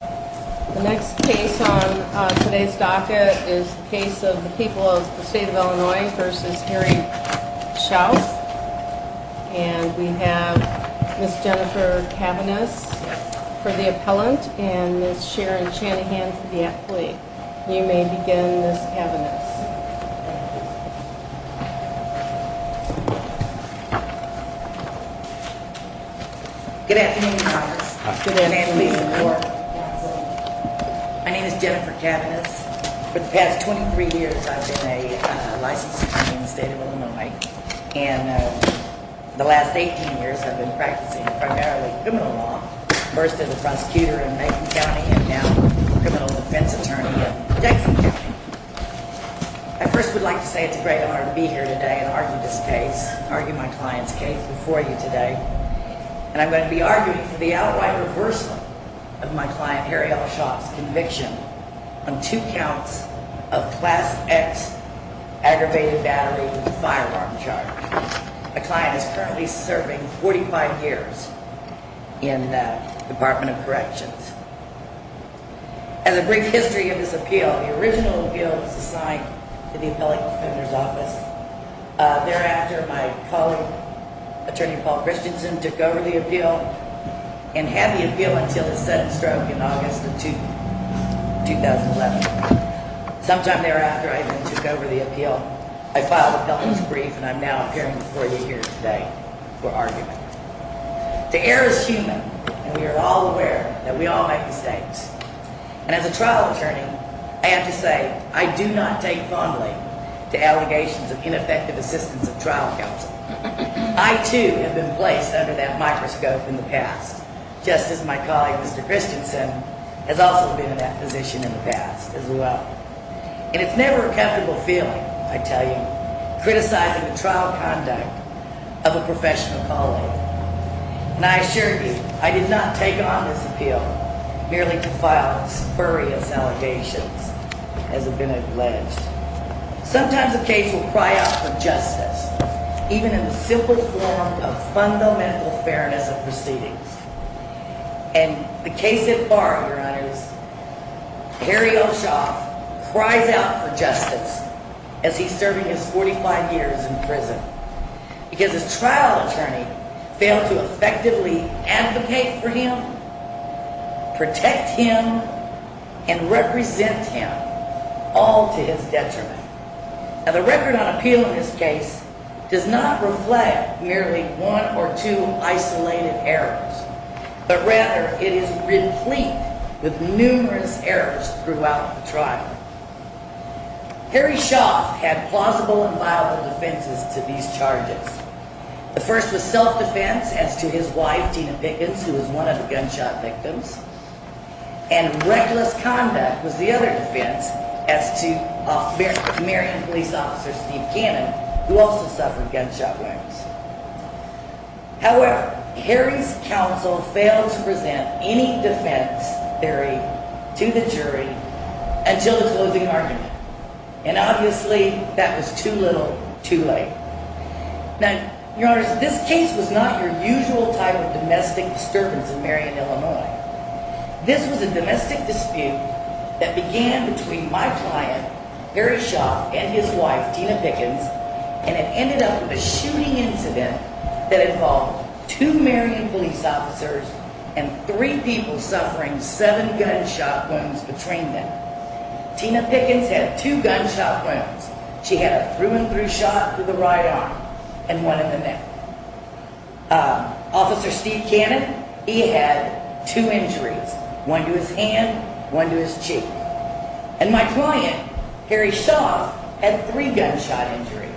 The next case on today's docket is the case of the people of the state of Illinois v. Harry Schauf and we have Ms. Jennifer Cavaniss for the appellant and Ms. Sharon Chanahan for the athlete. You may begin Ms. Cavaniss. Ms. Cavaniss Good afternoon, Congress. Good afternoon. My name is Jennifer Cavaniss. For the past 23 years I've been a licensed attorney in the state of Illinois and the last 18 years I've been practicing primarily criminal law. First as a prosecutor in Macon County and now a criminal defense attorney in Jackson County. I first would like to say it's a great honor to be here today and argue this case, argue my client's case before you today. And I'm going to be arguing for the outright reversal of my client Harry L. Schauf's conviction on two counts of Class X aggravated battery firearm charge. My client is currently serving 45 years in the Department of Corrections. As a brief history of his appeal, the original appeal was assigned to the appellate defender's office. Thereafter my colleague, Attorney Paul Christensen, took over the appeal and had the appeal until his sudden stroke in August of 2011. Sometime thereafter I then took over the appeal. I filed a felon's brief and I'm now appearing before you here today for argument. The air is human and we are all aware that we all make mistakes. And as a trial attorney, I have to say I do not take fondly to allegations of ineffective assistance of trial counsel. I too have been placed under that microscope in the past, just as my colleague, Mr. Christensen, has also been in that position in the past as well. And it's never a comfortable feeling, I tell you, criticizing the trial conduct of a professional colleague. And I assure you, I did not take on this appeal merely to file spurious allegations as have been alleged. Sometimes a case will cry out for justice, even in the simplest form of fundamental fairness of proceedings. And the case at bar, Your Honor, is Harry Oshoff cries out for justice as he's serving his 45 years in prison because his trial attorney failed to effectively advocate for him, protect him, and represent him all to his detriment. And the record on appeal in this case does not reflect merely one or two isolated errors, but rather it is replete with numerous errors throughout the trial. Harry Oshoff had plausible and viable defenses to these charges. The first was self-defense as to his wife, Tina Pickens, who was one of the gunshot victims. And reckless conduct was the other defense as to Marion police officer, Steve Cannon, who also suffered gunshot wounds. However, Harry's counsel failed to present any defense theory to the jury until the closing argument. And obviously, that was too little, too late. Now, Your Honor, this case was not your usual type of domestic disturbance in Marion, Illinois. This was a domestic dispute that began between my client, Harry Oshoff, and his wife, Tina Pickens, and it ended up with a shooting incident that involved two Marion police officers and three people suffering seven gunshot wounds between them. Tina Pickens had two gunshot wounds. She had a through-and-through shot to the right arm and one in the neck. Officer Steve Cannon, he had two injuries, one to his hand, one to his cheek. And my client, Harry Oshoff, had three gunshot injuries,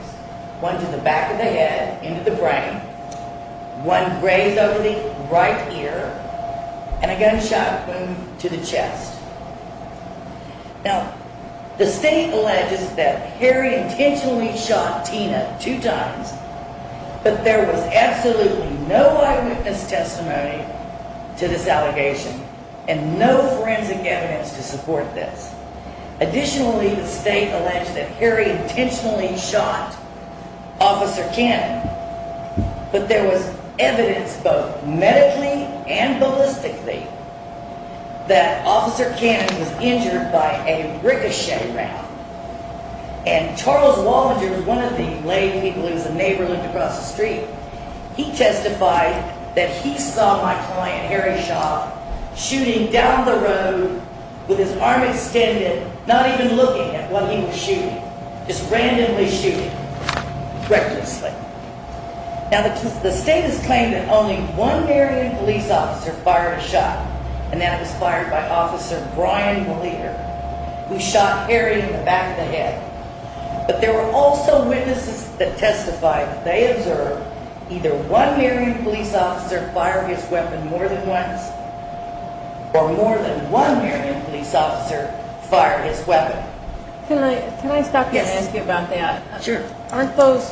one to the back of the head, into the brain, one grazed over the right ear, and a gunshot wound to the chest. Now, the state alleges that Harry intentionally shot Tina two times, but there was absolutely no eyewitness testimony to this allegation and no forensic evidence to support this. Additionally, the state alleged that Harry intentionally shot Officer Cannon, but there was evidence, both medically and ballistically, that Officer Cannon was injured by a ricochet round. And Charles Wallinger, one of the lay people in the neighborhood across the street, he testified that he saw my client, Harry Oshoff, shooting down the road with his arm extended, not even looking at what he was shooting, just randomly shooting, recklessly. Now, the state has claimed that only one Marion police officer fired a shot, and that was fired by Officer Brian Maleter, who shot Harry in the back of the head. But there were also witnesses that testified that they observed either one Marion police officer fire his weapon more than once, or more than one Marion police officer fire his weapon. Can I stop you and ask you about that? Sure. Aren't those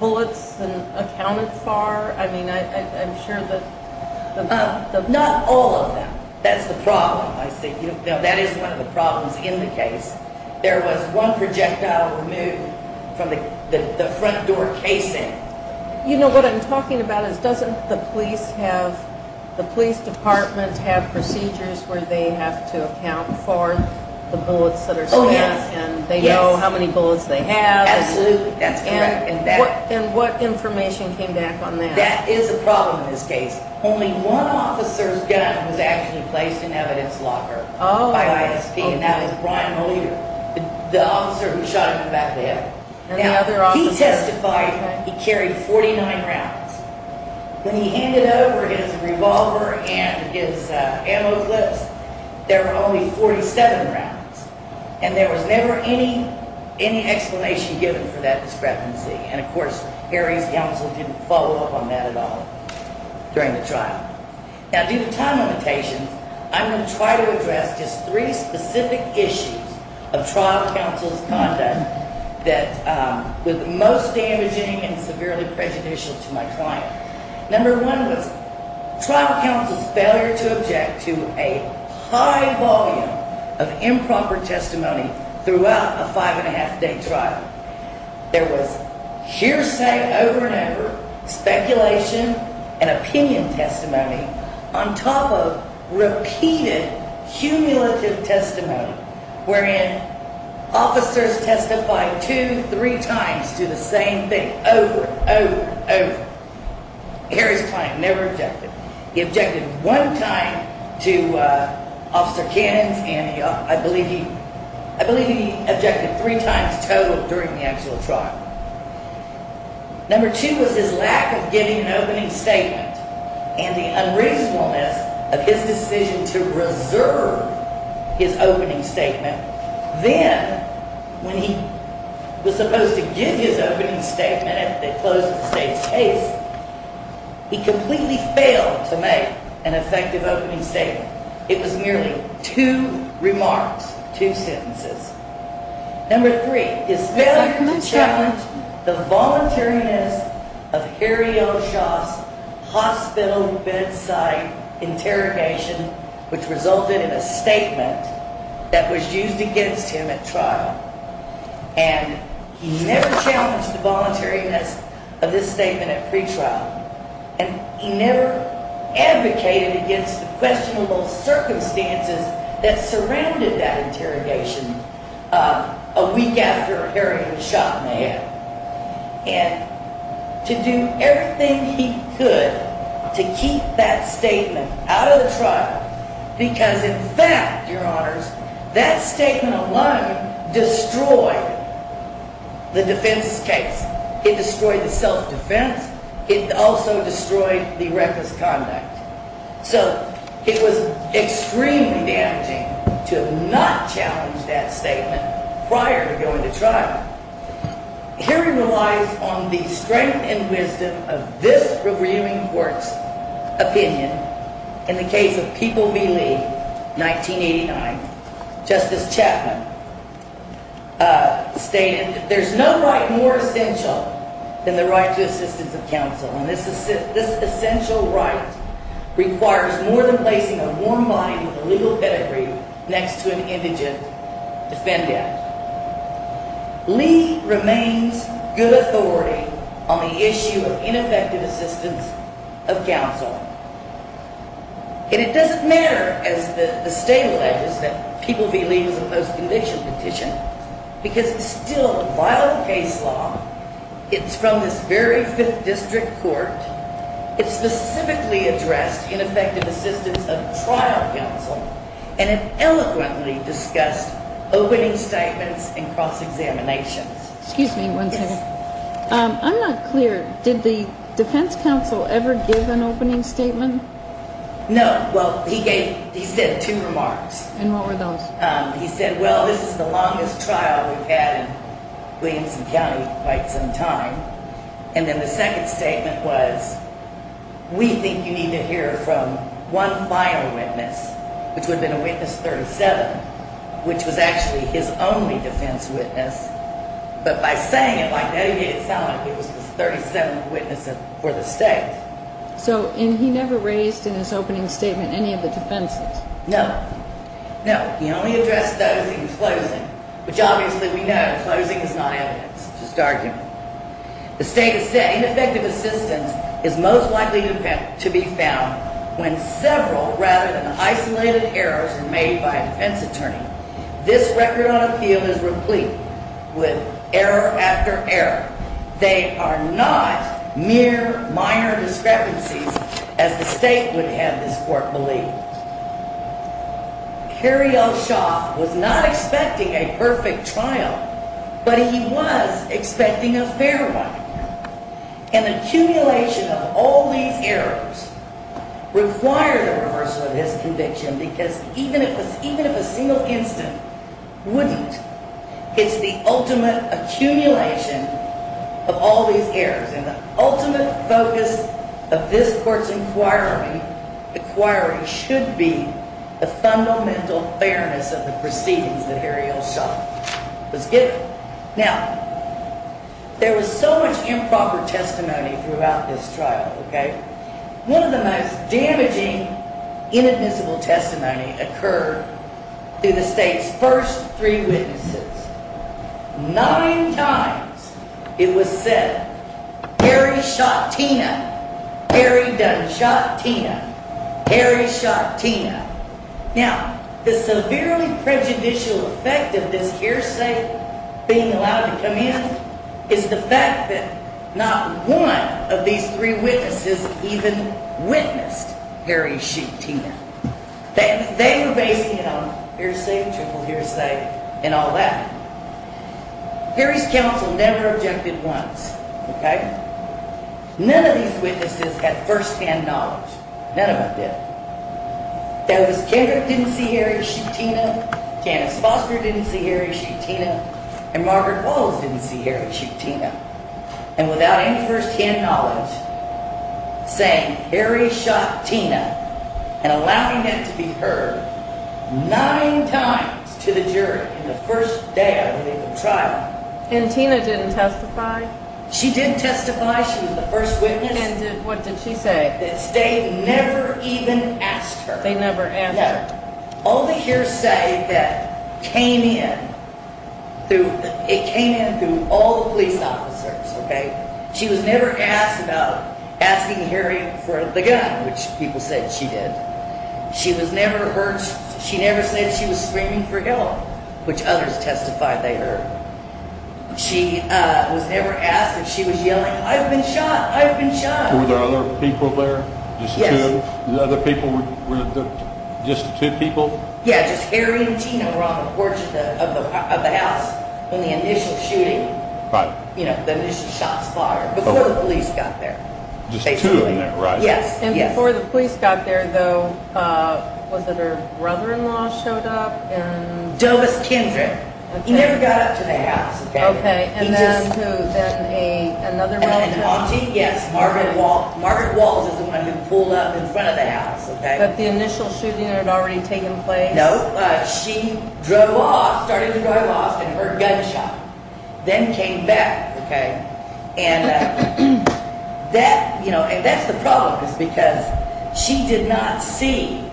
bullets accounted for? I mean, I'm sure that... Not all of them. That's the problem, I think. That is one of the problems in the case. There was one projectile removed from the front door casing. You know, what I'm talking about is, doesn't the police department have procedures where they have to account for the bullets that are spent, and they know how many bullets they have? Absolutely, that's correct. And what information came back on that? That is a problem in this case. Only one officer's gun was actually placed in evidence locker by ISP, and that was Brian Maleter, the officer who shot him in the back of the head. Now, he testified that he carried 49 rounds. When he handed over his revolver and his ammo clips, there were only 47 rounds, and there was never any explanation given for that discrepancy. And of course, Harry's counsel didn't follow up on that at all during the trial. Now, due to time limitations, I'm going to try to address just three specific issues of trial counsel's conduct that were the most damaging and severely prejudicial to my client. Number one was trial counsel's failure to object to a high volume of improper testimony throughout a five-and-a-half-day trial. There was hearsay over and over, speculation, and opinion testimony on top of repeated, cumulative testimony, wherein officers testified two, three times to the same thing over and over and over. Harry's client never objected. He objected one time to Officer Cannon's, and I believe he objected three times total during the actual trial. Number two was his lack of giving an opening statement and the unreasonableness of his decision to reserve his opening statement. Then, when he was supposed to give his opening statement after they closed the state's case, he completely failed to make an effective opening statement. It was merely two remarks, two sentences. Number three, his failure to challenge the voluntariness of Harry O'Shaugh's hospital bedside interrogation, which resulted in a statement that was used against him at trial. And he never challenged the voluntariness of this statement at pretrial, and he never advocated against the questionable circumstances that surrounded that interrogation a week after Harry was shot in the head. And to do everything he could to keep that statement out of the trial, because in fact, Your Honors, that statement alone destroyed the defense's case. It destroyed the self-defense. It also destroyed the reckless conduct. So it was extremely damaging to not challenge that statement prior to going to trial. Harry relies on the strength and wisdom of this reviewing court's opinion. In the case of People v. Lee, 1989, Justice Chapman stated that there's no right more essential than the right to assistance of counsel. And this essential right requires more than placing a warm line with a legal pedigree next to an indigent defendant. Lee remains good authority on the issue of ineffective assistance of counsel. And it doesn't matter, as the state alleges, that People v. Lee is a post-conviction petition, because it's still a violent case law. It's from this very 5th District Court. It specifically addressed ineffective assistance of trial counsel, and it eloquently discussed opening statements and cross-examinations. Excuse me one second. I'm not clear. Did the defense counsel ever give an opening statement? No. Well, he gave, he said two remarks. And what were those? He said, well, this is the longest trial we've had in Williamson County in quite some time. And then the second statement was, we think you need to hear from one final witness, which would have been a witness 37, which was actually his only defense witness. But by saying it like that, he made it sound like it was the 37th witness for the state. So, and he never raised in his opening statement any of the defenses? No. No. He only addressed those in closing, which obviously we know closing is not evidence. It's just argument. The state has said, ineffective assistance is most likely to be found when several rather than isolated errors are made by a defense attorney. This record on appeal is replete with error after error. They are not mere minor discrepancies as the state would have this court believe. Kerry O'Shaugh was not expecting a perfect trial, but he was expecting a fair one. An accumulation of all these errors required a reversal of his conviction because even if a single incident wouldn't, it's the ultimate accumulation of all these errors. And the ultimate focus of this court's inquiry should be the fundamental fairness of the proceedings that Kerry O'Shaugh was given. Now, there was so much improper testimony throughout this trial, okay? One of the most damaging inadmissible testimony occurred through the state's first three witnesses. Nine times it was said, Kerry shot Tina. Kerry Dunn shot Tina. Kerry shot Tina. Now, the severely prejudicial effect of this hearsay being allowed to come in is the fact that not one of these three witnesses even witnessed Kerry shoot Tina. They were basing it on hearsay, triple hearsay, and all that. Kerry's counsel never objected once, okay? None of these witnesses had firsthand knowledge. None of them did. There was Kerry who didn't see Kerry shoot Tina. Janice Foster didn't see Kerry shoot Tina. And Margaret Walls didn't see Kerry shoot Tina. And without any firsthand knowledge, saying Kerry shot Tina and allowing that to be heard nine times to the jury in the first day of the trial. And Tina didn't testify? She didn't testify. She was the first witness. And what did she say? The state never even asked her. They never asked her. No. All the hearsay that came in, it came in through all the police officers, okay? She was never asked about asking Kerry for the gun, which people said she did. She was never heard, she never said she was screaming for help, which others testified they heard. She was never asked if she was yelling, I've been shot, I've been shot. Were there other people there? Yes. Other people, just the two people? Yeah, just Kerry and Tina were on the porch of the house in the initial shooting. Right. You know, the initial shots fired before the police got there. Just the two of them, right? Yes. And before the police got there, though, was it her brother-in-law showed up? Dovis Kendrick. He never got up to the house. Okay, and then who? Another relative? An auntie, yes. Margaret Walls is the one who pulled up in front of the house, okay? But the initial shooting had already taken place? No. She drove off, started to drive off, and heard gunshots, then came back. Okay. And that's the problem is because she did not see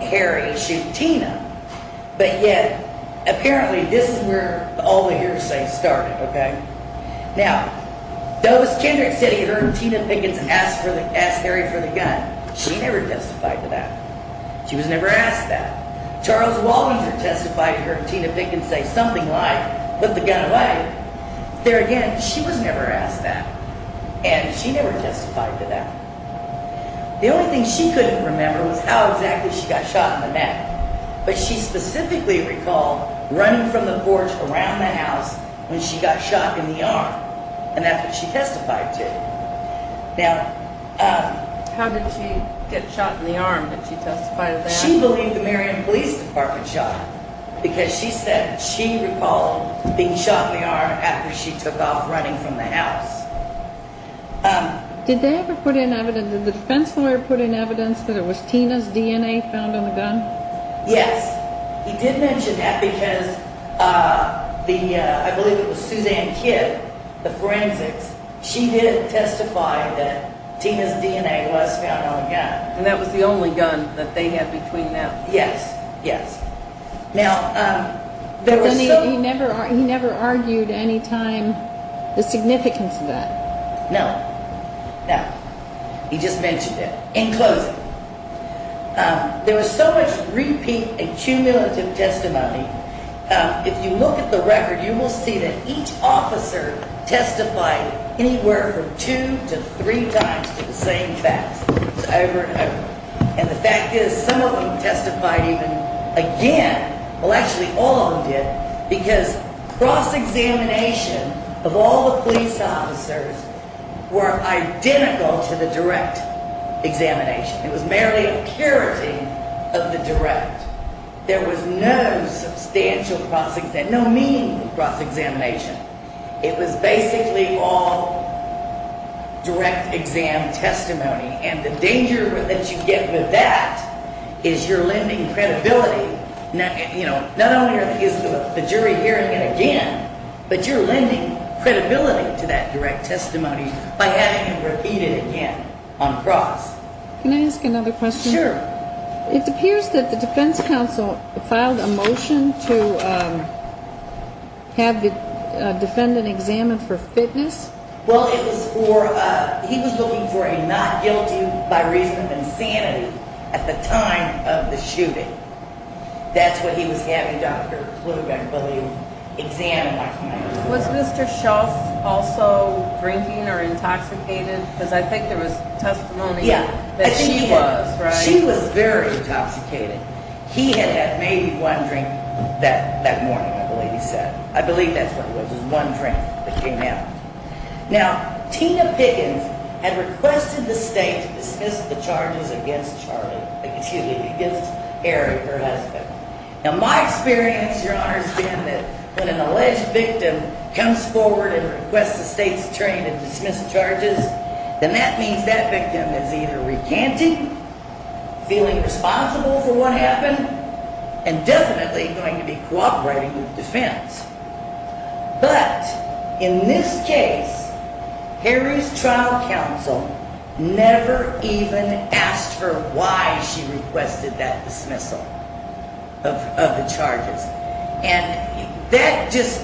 Kerry shoot Tina, but yet apparently this is where all the hearsay started, okay? Now, Dovis Kendrick said he heard Tina Pickens ask Harry for the gun. She never testified to that. She was never asked that. Charles Waldron testified he heard Tina Pickens say something like, put the gun away. There again, she was never asked that, and she never testified to that. The only thing she couldn't remember was how exactly she got shot in the neck, but she specifically recalled running from the porch around the house when she got shot in the arm, and that's what she testified to. Now, how did she get shot in the arm? Did she testify to that? She believed the Marion Police Department shot her because she said she recalled being shot in the arm after she took off running from the house. Did they ever put in evidence, did the defense lawyer put in evidence that it was Tina's DNA found on the gun? Yes. He did mention that because the, I believe it was Suzanne Kidd, the forensics, she did testify that Tina's DNA was found on the gun. And that was the only gun that they had between them. Yes, yes. Now, there was so... He never argued any time the significance of that. No, no. He just mentioned it. In closing, there was so much repeat and cumulative testimony. If you look at the record, you will see that each officer testified And the fact is, some of them testified even again, well, actually all of them did, because cross-examination of all the police officers were identical to the direct examination. It was merely a purity of the direct. There was no substantial cross-examination, no mean cross-examination. It was basically all direct exam testimony. And the danger that you get with that is you're lending credibility. Not only is the jury hearing it again, but you're lending credibility to that direct testimony by having it repeated again on the cross. Can I ask another question? Sure. It appears that the defense counsel filed a motion to have the defendant examined for fitness. Well, he was looking for a not guilty by reason of insanity at the time of the shooting. That's what he was having Dr. Klug, I believe, examine. Was Mr. Schultz also drinking or intoxicated? Because I think there was testimony that he was. She was very intoxicated. He had had maybe one drink that morning, I believe he said. I believe that's what it was. It was one drink that came out. Now, Tina Pickens had requested the state to dismiss the charges against Charlie, excuse me, against Eric, her husband. Now, my experience, Your Honor, has been that when an alleged victim comes forward and requests the state's attorney to dismiss charges, then that means that victim is either recanting, feeling responsible for what happened, and definitely going to be cooperating with defense. But in this case, Harry's trial counsel never even asked her why she requested that dismissal of the charges. And that just,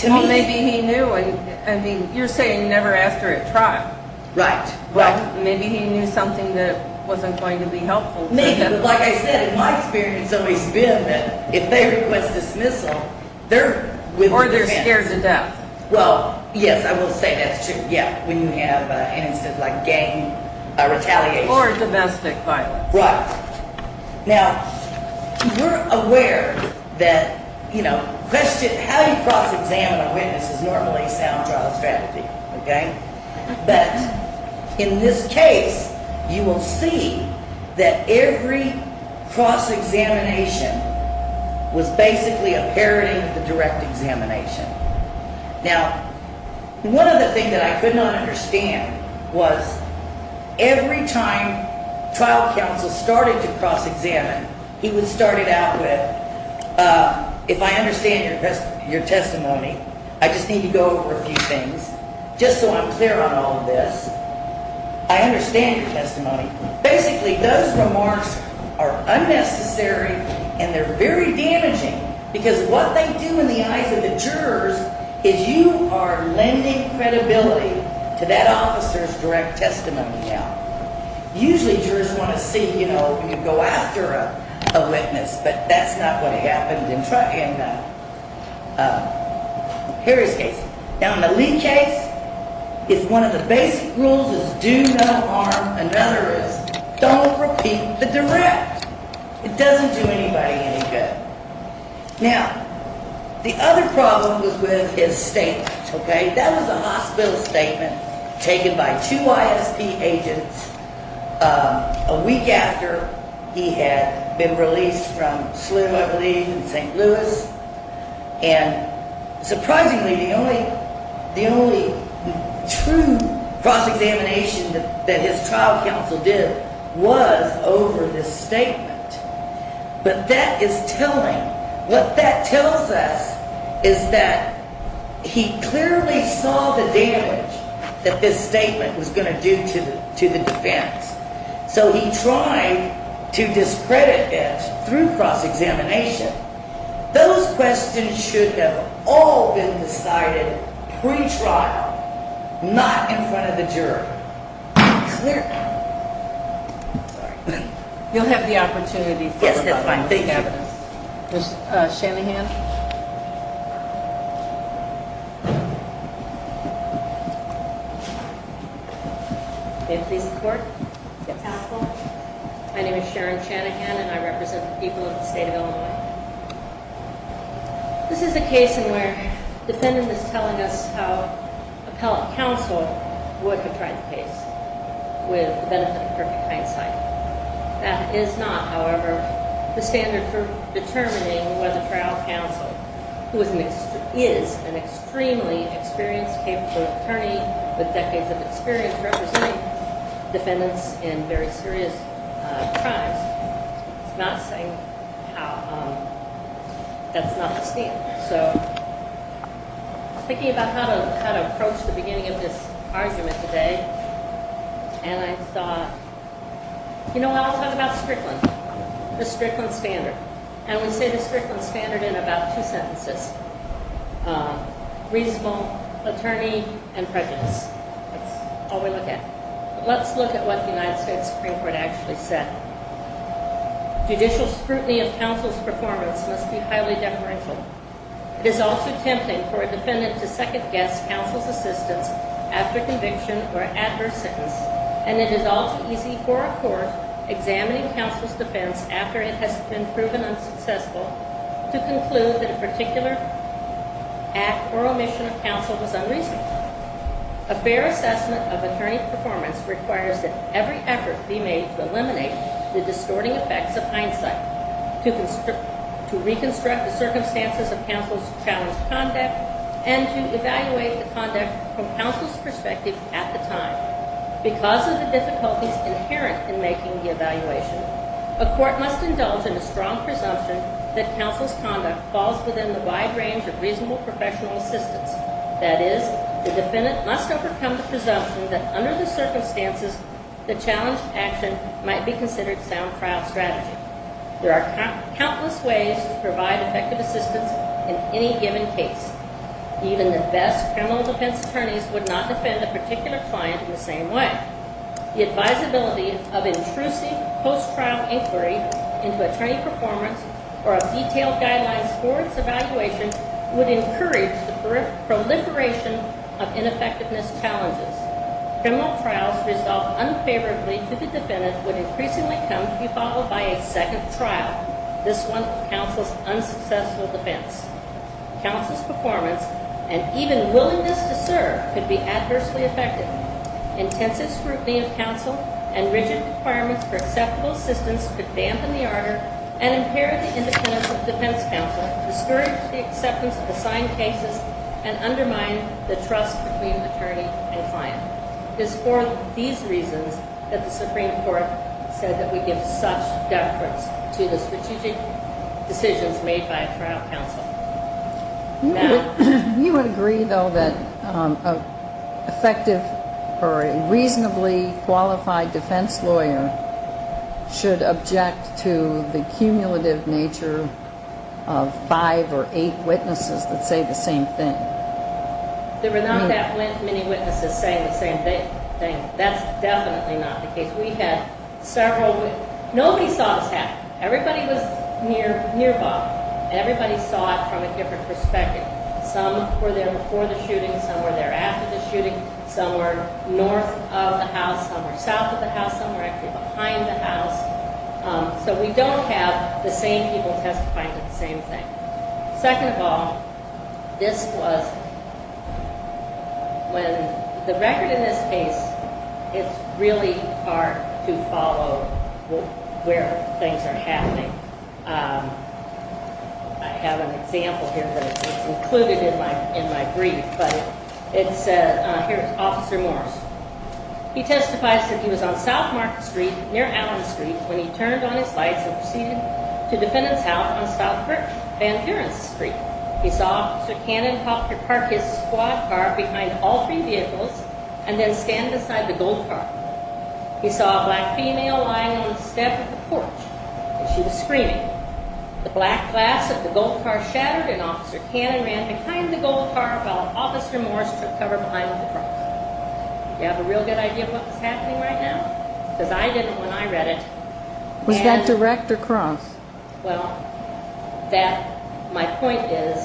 to me... Well, maybe he knew. I mean, you're saying never asked her at trial. Right. Well, maybe he knew something that wasn't going to be helpful. Maybe, but like I said, in my experience, it may have been that if they request dismissal, they're with the defense. Or they're scared to death. Well, yes, I will say that's true, yeah, when you have instances like gang retaliation. Or domestic violence. Right. Now, you're aware that, you know, how you cross-examine a witness is normally a sound trial strategy, okay? But in this case, you will see that every cross-examination was basically a parody of the direct examination. Now, one other thing that I could not understand was every time trial counsel started to cross-examine, he would start it out with, if I understand your testimony, I just need to go over a few things just so I'm clear on all of this. I understand your testimony. Basically, those remarks are unnecessary and they're very damaging because what they do in the eyes of the jurors is you are lending credibility to that officer's direct testimony. Now, usually jurors want to see, you know, you go after a witness, but that's not what happened in Harry's case. Now, in the Lee case, if one of the basic rules is do no harm, another is don't repeat the direct. It doesn't do anybody any good. Now, the other problem was with his statement, okay? That was a hospital statement taken by two ISP agents a week after he had been released from Slim, I believe, in St. Louis. And surprisingly, the only true cross-examination that his trial counsel did was over this statement. But that is telling. What that tells us is that he clearly saw the damage that this statement was going to do to the defense. So he tried to discredit it through cross-examination. Those questions should have all been decided pre-trial, not in front of the juror. Clear. Sorry. You'll have the opportunity to look at the evidence. Yes, that's fine. Thank you. Ms. Shanahan. May it please the Court? Yes. Counsel, my name is Sharon Shanahan, and I represent the people of the state of Illinois. This is a case in where the defendant is telling us how appellate counsel would have tried the case with the benefit of perfect hindsight. That is not, however, the standard for determining whether trial counsel, who is an extremely experienced, capable attorney with decades of experience representing defendants in very serious crimes, is not saying how that's not the standard. So I was thinking about how to approach the beginning of this argument today, and I thought, you know what? I'll talk about Strickland, the Strickland standard. And we say the Strickland standard in about two sentences, reasonable attorney and prejudice. That's all we look at. Let's look at what the United States Supreme Court actually said. Judicial scrutiny of counsel's performance must be highly deferential. It is also tempting for a defendant to second-guess counsel's assistance after conviction or adverse sentence, and it is also easy for a court examining counsel's defense after it has been proven unsuccessful to conclude that a particular act or omission of counsel was unreasonable. A fair assessment of attorney performance requires that every effort be made to eliminate the distorting effects of hindsight, to reconstruct the circumstances of counsel's challenged conduct, and to evaluate the conduct from counsel's perspective at the time. Because of the difficulties inherent in making the evaluation, a court must indulge in a strong presumption that counsel's conduct falls within the wide range of reasonable professional assistance. That is, the defendant must overcome the presumption that under the circumstances, the challenged action might be considered sound trial strategy. There are countless ways to provide effective assistance in any given case. Even the best criminal defense attorneys would not defend a particular client in the same way. The advisability of intrusive post-trial inquiry into attorney performance or of detailed guidelines for its evaluation would encourage the proliferation of ineffectiveness challenges. Criminal trials resolved unfavorably to the defendant would increasingly come to be followed by a second trial, this one of counsel's unsuccessful defense. Counsel's performance, and even willingness to serve, could be adversely affected. Intensive scrutiny of counsel and rigid requirements for acceptable assistance could dampen the ardor and impair the independence of the defense counsel, discourage the acceptance of assigned cases, and undermine the trust between attorney and client. It is for these reasons that the Supreme Court said that we give such deference to the strategic decisions made by a trial counsel. You would agree, though, that an effective or reasonably qualified defense lawyer should object to the cumulative nature of five or eight witnesses that say the same thing? There were not that many witnesses saying the same thing. That's definitely not the case. We had several witnesses. Nobody saw this happen. Everybody was nearby, and everybody saw it from a different perspective. Some were there before the shooting. Some were there after the shooting. Some were north of the house. Some were south of the house. Some were actually behind the house. So we don't have the same people testifying to the same thing. Second of all, this was when the record in this case, it's really hard to follow where things are happening. I have an example here, but it's included in my brief. But it said, here, it's Officer Morris. He testifies that he was on South Market Street, near Allen Street, when he turned on his lights and proceeded to Defendant's House on South Van Buren Street. He saw Officer Cannon hop to park his squad car behind all three vehicles and then stand beside the gold car. He saw a black female lying on the step of the porch, and she was screaming. The black glass of the gold car shattered, and Officer Cannon ran behind the gold car while Officer Morris took cover behind the car. Do you have a real good idea of what was happening right now? Because I didn't when I read it. Was that direct or cross? Well, my point is,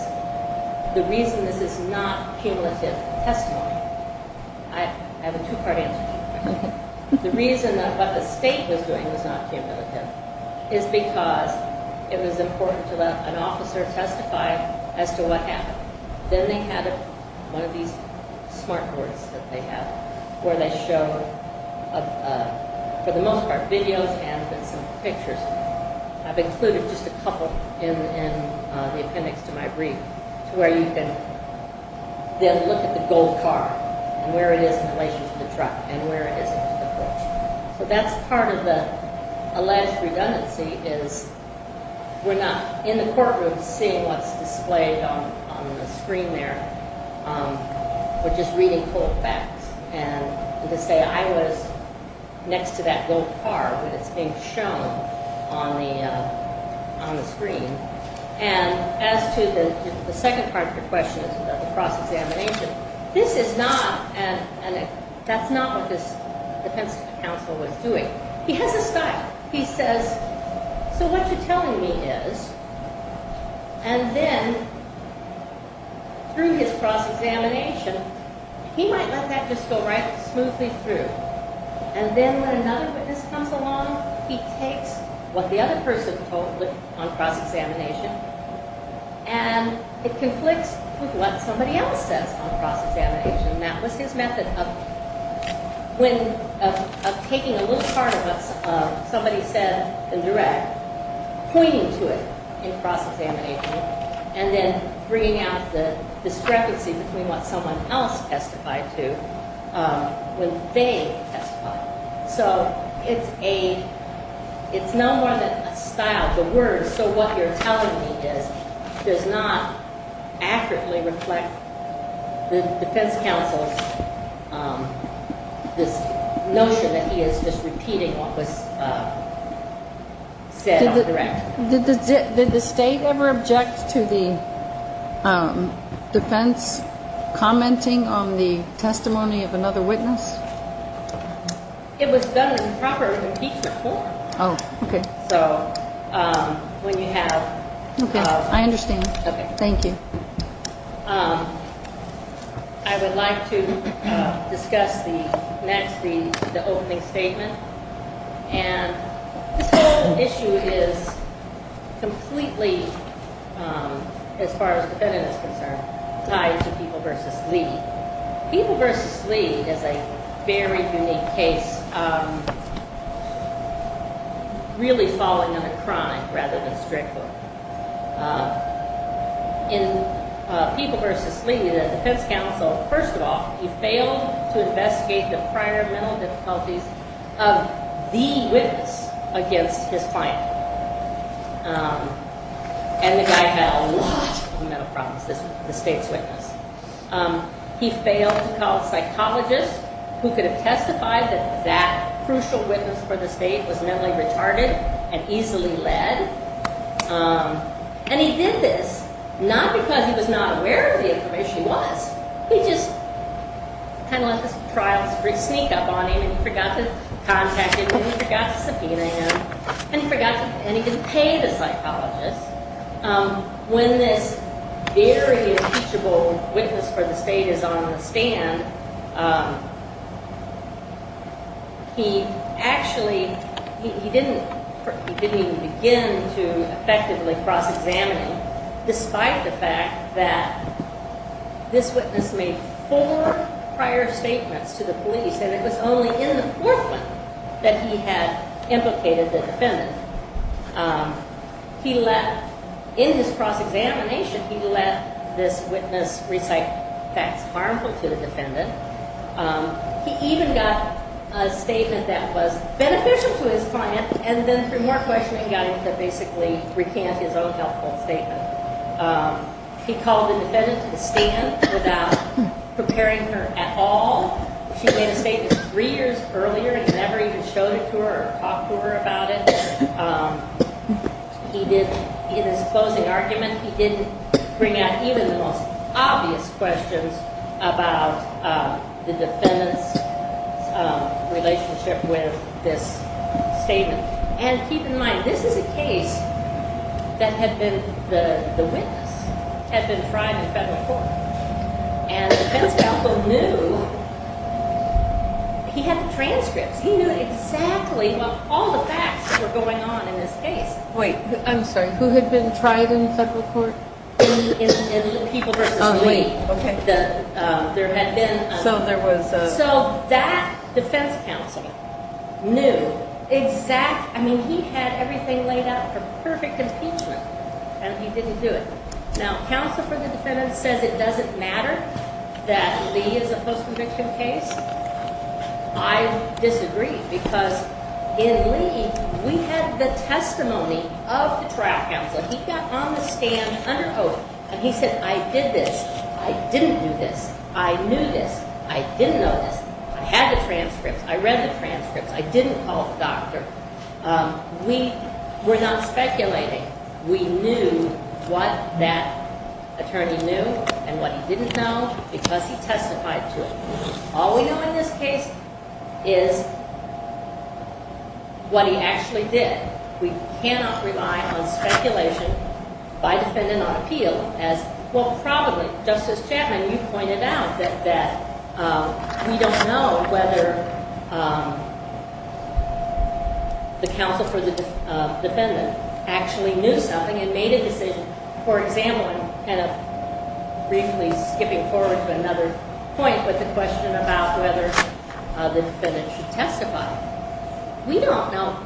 the reason this is not cumulative testimony, I have a two-part answer. The reason that what the state was doing was not cumulative is because it was important to let an officer testify as to what happened. Then they had one of these smart boards that they have where they show, for the most part, videos and then some pictures. I've included just a couple in the appendix to my brief to where you can then look at the gold car and where it is in relation to the truck. So that's part of the alleged redundancy is we're not in the courtroom seeing what's displayed on the screen there. We're just reading full facts. And to say I was next to that gold car when it's being shown on the screen. And as to the second part of your question about the cross-examination, this is not, and that's not what this defense counsel was doing. He has a style. He says, so what you're telling me is, and then through his cross-examination, he might let that just go right smoothly through. And then when another witness comes along, he takes what the other person told him on cross-examination and it conflicts with what somebody else says on cross-examination. And that was his method of taking a little part of what somebody said in direct, pointing to it in cross-examination, and then bringing out the discrepancy between what someone else testified to when they testified. So it's a, it's no more than a style. The word, so what you're telling me is, does not accurately reflect the defense counsel's, this notion that he is just repeating what was said on direct. Did the state ever object to the defense commenting on the testimony of another witness? It was done in proper impeachment form. Oh, okay. So when you have. Okay, I understand. Okay. Thank you. I would like to discuss the next, the opening statement. And this whole issue is completely, as far as the defendant is concerned, tied to People v. Lee. People v. Lee is a very unique case, really falling on a crime rather than strictly. In People v. Lee, the defense counsel, first of all, he failed to investigate the prior mental difficulties of the witness against his client. And the guy had a lot of mental problems, the state's witness. He failed to call a psychologist who could have testified that that crucial witness for the state was mentally retarded and easily led. And he did this not because he was not aware of the information he was. He just kind of let this trial sneak up on him and forgot to contact him and forgot to subpoena him and he didn't pay the psychologist. When this very impeachable witness for the state is on the stand, he actually, he didn't even begin to effectively cross-examine him, despite the fact that this witness made four prior statements to the police and it was only in the fourth one that he had implicated the defendant. He let, in his cross-examination, he let this witness recite facts harmful to the defendant. He even got a statement that was beneficial to his client and then three more questioning got him to basically recant his own helpful statement. He called the defendant to the stand without preparing her at all. She made a statement three years earlier and he never even showed it to her or talked to her about it. He did, in his closing argument, he didn't bring out even the most obvious questions about the defendant's relationship with this statement. And keep in mind, this is a case that had been, the witness had been tried in federal court. And the defense counsel knew, he had the transcripts, he knew exactly what, all the facts that were going on in this case. Wait, I'm sorry, who had been tried in federal court? In People v. Lee. Oh, wait, okay. There had been a... So there was a... So that defense counsel knew exactly, I mean he had everything laid out for perfect impeachment and he didn't do it. Now counsel for the defendant says it doesn't matter that Lee is a post-conviction case. I disagree because in Lee we had the testimony of the trial counsel. He got on the stand under oath and he said, I did this, I didn't do this, I knew this, I didn't know this, I had the transcripts, I read the transcripts, I didn't call the doctor. We were not speculating. We knew what that attorney knew and what he didn't know because he testified to it. All we know in this case is what he actually did. We cannot rely on speculation by defendant on appeal as, well, probably. Justice Chapman, you pointed out that we don't know whether the counsel for the defendant actually knew something and made a decision. For example, kind of briefly skipping forward to another point with the question about whether the defendant should testify. We don't know.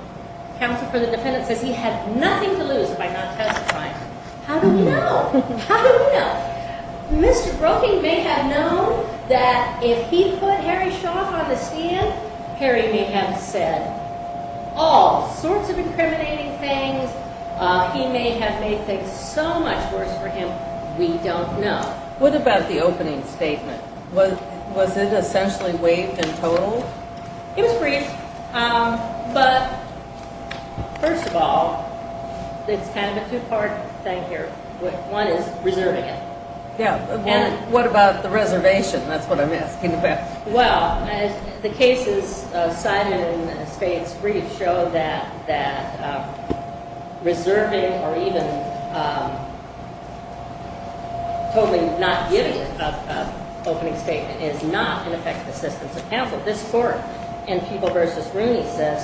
Counsel for the defendant says he had nothing to lose by not testifying. How do we know? How do we know? Mr. Broeking may have known that if he put Harry Shaw on the stand, Harry may have said all sorts of incriminating things. He may have made things so much worse for him. We don't know. What about the opening statement? Was it essentially waived and totaled? It was waived, but first of all, it's kind of a two-part thing here. One is reserving it. What about the reservation? That's what I'm asking about. Well, the cases cited in Spade's brief show that reserving or even totally not giving an opening statement is not an effective assistance of counsel. And People v. Rooney says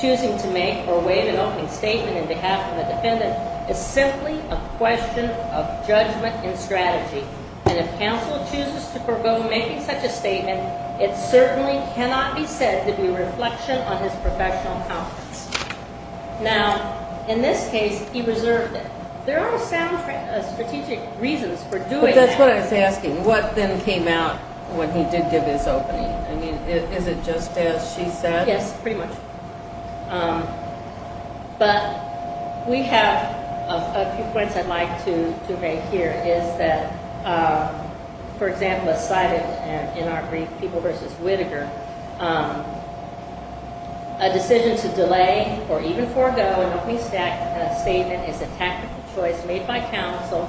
choosing to make or waive an opening statement on behalf of a defendant is simply a question of judgment and strategy. And if counsel chooses to forego making such a statement, it certainly cannot be said to be a reflection on his professional competence. Now, in this case, he reserved it. There are sound strategic reasons for doing that. That's what I was asking. What then came out when he did give his opening? I mean, is it just as she said? Yes, pretty much. But we have a few points I'd like to make here is that, for example, as cited in our brief, People v. Whittaker, a decision to delay or even forego an opening statement is a tactical choice made by counsel.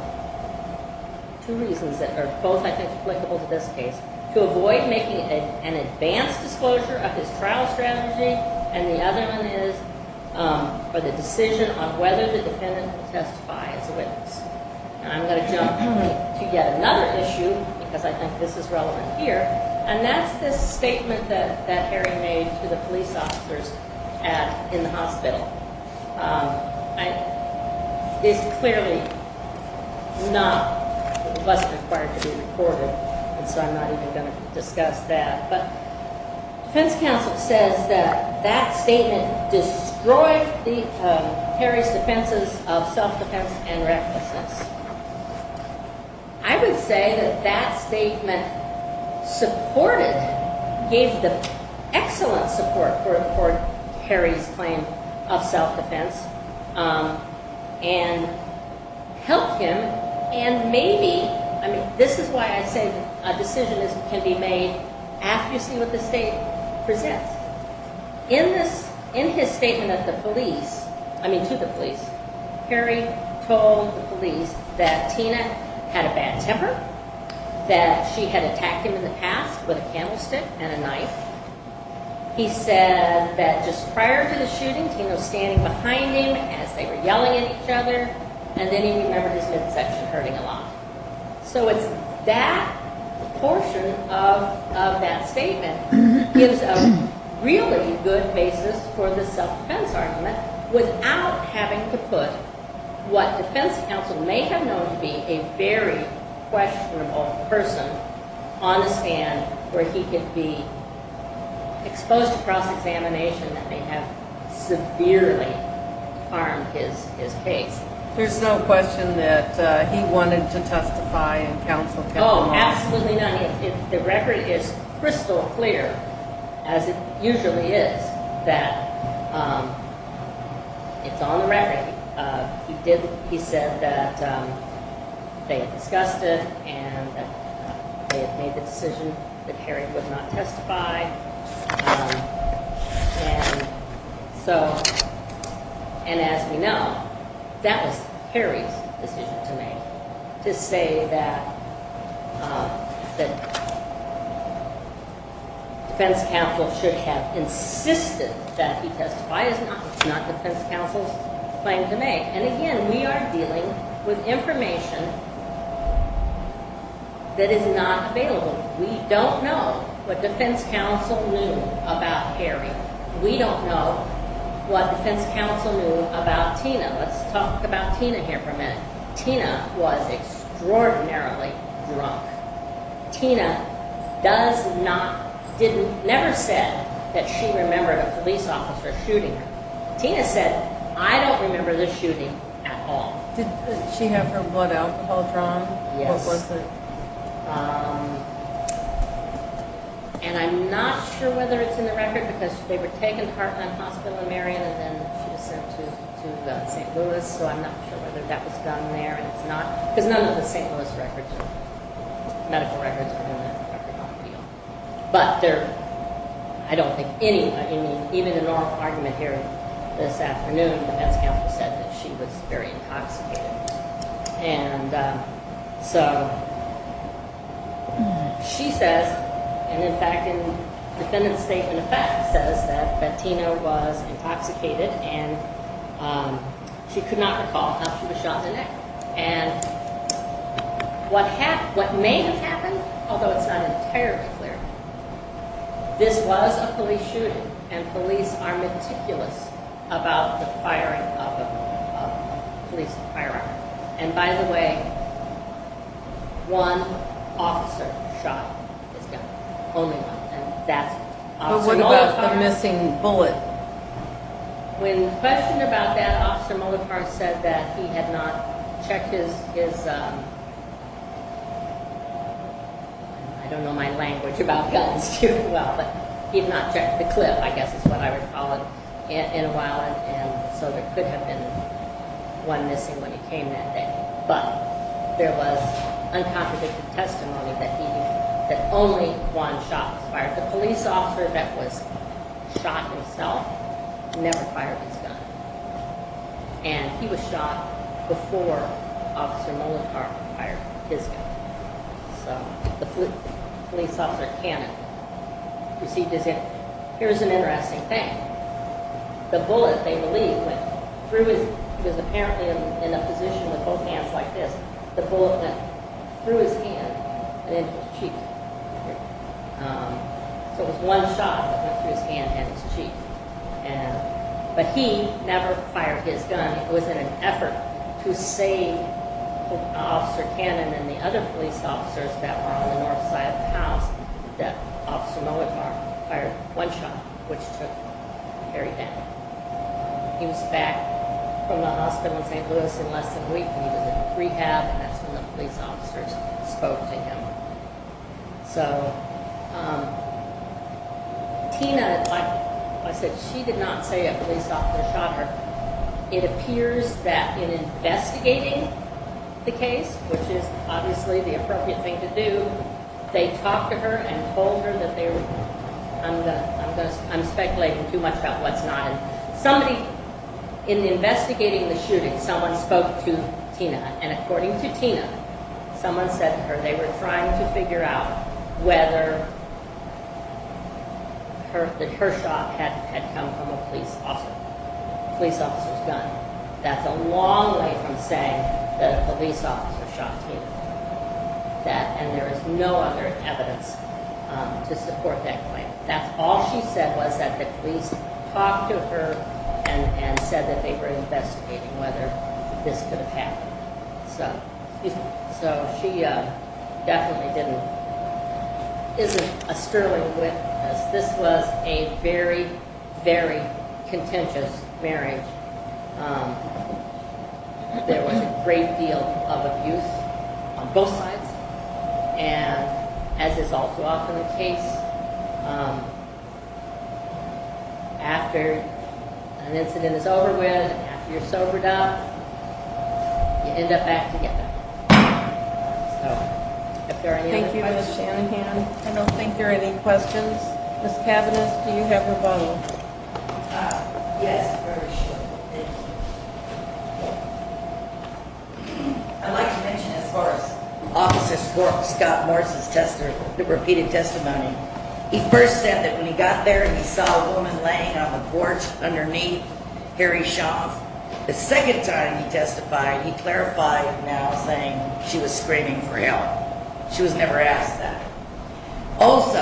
Two reasons that are both, I think, applicable to this case. To avoid making an advanced disclosure of his trial strategy, and the other one is for the decision on whether the defendant will testify as a witness. And I'm going to jump to yet another issue, because I think this is relevant here. And that's this statement that Harry made to the police officers in the hospital. It's clearly not the question required to be recorded, and so I'm not even going to discuss that. But defense counsel says that that statement destroyed Harry's defenses of self-defense and recklessness. I would say that that statement supported, gave the excellent support for Harry's claim of self-defense and helped him. And maybe, I mean, this is why I say a decision can be made after you see what the state presents. In his statement to the police, Harry told the police that Tina had a bad temper, that she had attacked him in the past with a candlestick and a knife. He said that just prior to the shooting, Tina was standing behind him as they were yelling at each other, and then he remembered his midsection hurting a lot. So it's that portion of that statement gives a really good basis for the self-defense argument, without having to put what defense counsel may have known to be a very questionable person on the stand, where he could be exposed to cross-examination that may have severely harmed his case. There's no question that he wanted to testify, and counsel kept him off. Oh, absolutely not. The record is crystal clear, as it usually is, that it's on the record. He said that they had discussed it, and they had made the decision that Harry would not testify. And as we know, that was Harry's decision to make, to say that defense counsel should have insisted that he testify. It's not defense counsel's claim to make. And again, we are dealing with information that is not available. We don't know what defense counsel knew about Harry. We don't know what defense counsel knew about Tina. Let's talk about Tina here for a minute. Tina was extraordinarily drunk. Tina never said that she remembered a police officer shooting her. Tina said, I don't remember the shooting at all. Did she have her blood alcohol drawn? Yes. And I'm not sure whether it's in the record, because they were taken to Heartland Hospital in Marion, and then she was sent to St. Louis, so I'm not sure whether that was done there. Because none of the St. Louis medical records were in that record on appeal. But I don't think any, even in our argument here this afternoon, defense counsel said that she was very intoxicated. And so she says, and in fact, the defendant's statement of fact says that Tina was intoxicated, and she could not recall how she was shot in the neck. And what may have happened, although it's not entirely clear, this was a police shooting, and police are meticulous about the firing of a police firearm. And by the way, one officer shot his gun. Only one. But what about the missing bullet? When questioned about that, Officer Molopar said that he had not checked his, I don't know my language about guns too well, but he had not checked the clip, I guess is what I recall, in a while. And so there could have been one missing when he came that day. But there was uncontradicted testimony that only one shot was fired. The police officer that was shot himself never fired his gun. And he was shot before Officer Molopar fired his gun. So the police officer, Cannon, received his gun. Here's an interesting thing. The bullet, they believe, went through his, because apparently in a position with both hands like this, the bullet went through his hand and into his cheek. So it was one shot that went through his hand and his cheek. But he never fired his gun. It was in an effort to save Officer Cannon and the other police officers that were on the north side of the house that Officer Molopar fired one shot, which took Harry down. He was back from the hospital in St. Louis in less than a week. He was in rehab and that's when the police officers spoke to him. So Tina, like I said, she did not say a police officer shot her. It appears that in investigating the case, which is obviously the appropriate thing to do, they talked to her and told her that they were, I'm speculating too much about what's not. Somebody, in investigating the shooting, someone spoke to Tina. And according to Tina, someone said to her they were trying to figure out whether her shot had come from a police officer's gun. That's a long way from saying that a police officer shot Tina. And there is no other evidence to support that claim. That's all she said was that the police talked to her and said that they were investigating whether this could have happened. So she definitely didn't, isn't a sterling witness. This was a very, very contentious marriage. There was a great deal of abuse on both sides. And as is often the case, after an incident is over with, after you're sobered up, you end up back together. Thank you, Ms. Shanahan. I don't think there are any questions. Ms. Kavanagh, do you have a vote? Yes, very shortly. Thank you. I'd like to mention as far as Officer Scott Morris' repeated testimony. He first said that when he got there, he saw a woman laying on the porch underneath Harry Shaw. The second time he testified, he clarified it now, saying she was screaming for help. She was never asked that. Also,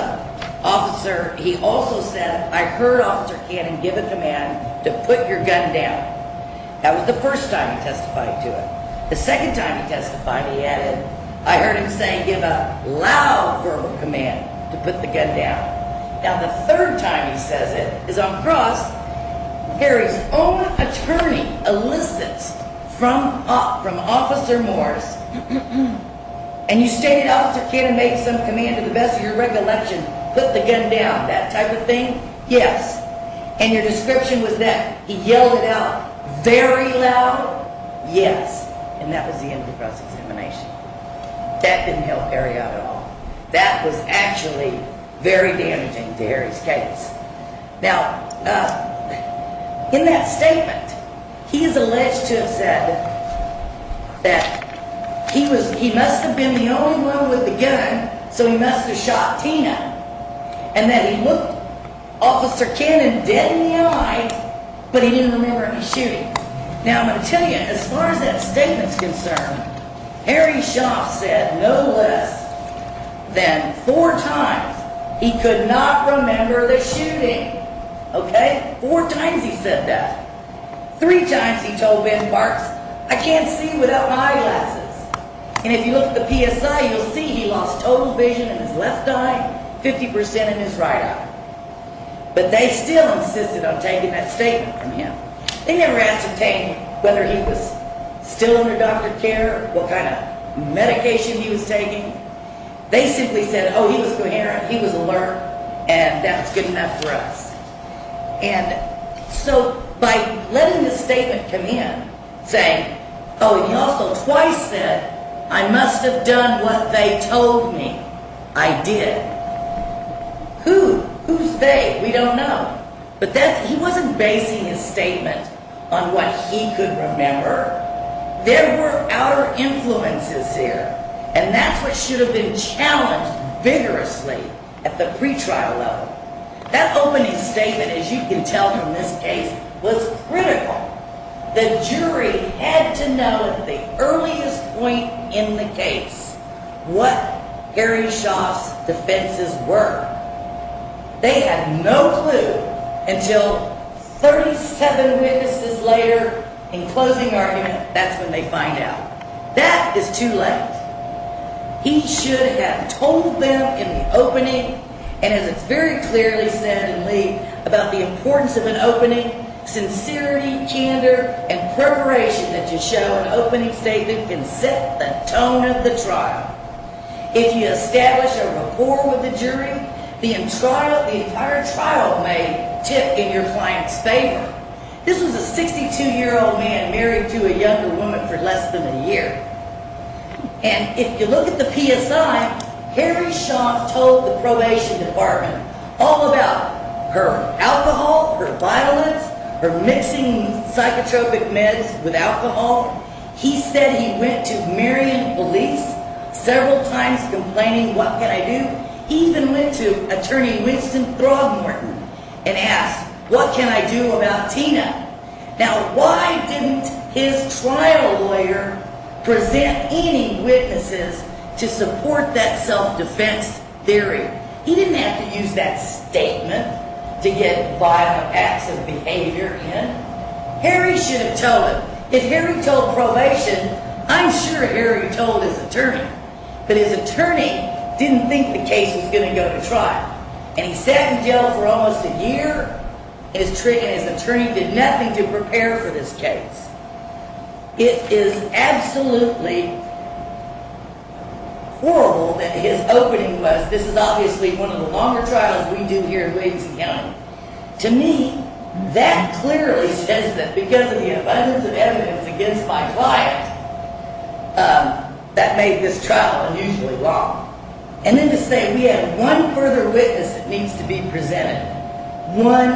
he also said, I heard Officer Cannon give a command to put your gun down. That was the first time he testified to it. The second time he testified, he added, I heard him say, give a loud verbal command to put the gun down. Now the third time he says it, is on the cross, Harry's own attorney elicits from Officer Morris, and you stated Officer Cannon made some command to the best of your recollection, put the gun down, that type of thing? Yes. And your description was that he yelled it out very loud? Yes. And that was the end of the cross-examination. That didn't help Harry out at all. That was actually very damaging to Harry's case. Now, in that statement, he is alleged to have said that he must have been the only one with the gun, so he must have shot Tina. And that he looked Officer Cannon dead in the eye, but he didn't remember any shooting. Now, I'm going to tell you, as far as that statement is concerned, Harry Schaaf said no less than four times he could not remember the shooting. Okay? Four times he said that. Three times he told Ben Parks, I can't see without my eyeglasses. And if you look at the PSI, you'll see he lost total vision in his left eye, 50% in his right eye. But they still insisted on taking that statement from him. They never asked him whether he was still under doctor care, what kind of medication he was taking. They simply said, oh, he was coherent, he was alert, and that was good enough for us. And so by letting this statement come in, saying, oh, he also twice said, I must have done what they told me I did. Who? Who's they? We don't know. But he wasn't basing his statement on what he could remember. There were outer influences here, and that's what should have been challenged vigorously at the pretrial level. That opening statement, as you can tell from this case, was critical. The jury had to know at the earliest point in the case what Harry Schaaf's defenses were. They had no clue until 37 witnesses later in closing argument, that's when they find out. That is too late. He should have told them in the opening, and as it's very clearly said in Lee, about the importance of an opening, sincerity, candor, and preparation that you show in an opening statement can set the tone of the trial. If you establish a rapport with the jury, the entire trial may tip in your client's favor. This was a 62-year-old man married to a younger woman for less than a year. And if you look at the PSI, Harry Schaaf told the probation department all about her alcohol, her violence, her mixing psychotropic meds with alcohol. He said he went to Marion police several times complaining, what can I do? He even went to attorney Winston Throgmorton and asked, what can I do about Tina? Now why didn't his trial lawyer present any witnesses to support that self-defense theory? He didn't have to use that statement to get violent acts of behavior in. Harry should have told him. If Harry told probation, I'm sure Harry told his attorney. But his attorney didn't think the case was going to go to trial. And he sat in jail for almost a year, and his attorney did nothing to prepare for this case. It is absolutely horrible that his opening was, this is obviously one of the longer trials we do here at Williamson County. To me, that clearly says that because of the abundance of evidence against my client, that made this trial unusually long. And then to say we have one further witness that needs to be presented, one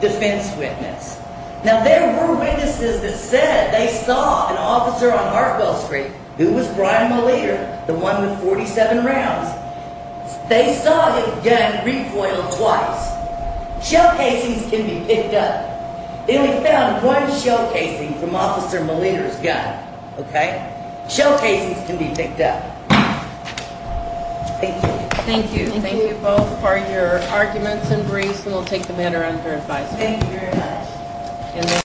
defense witness. Now there were witnesses that said they saw an officer on Hartwell Street, who was Brian Maleta, the one with 47 rounds. They saw his gun recoiled twice. Shell casings can be picked up. Then we found one shell casing from Officer Maleta's gun. Shell casings can be picked up. Thank you. Thank you. Thank you both for your arguments and briefs, and we'll take the matter under advisory. Thank you very much.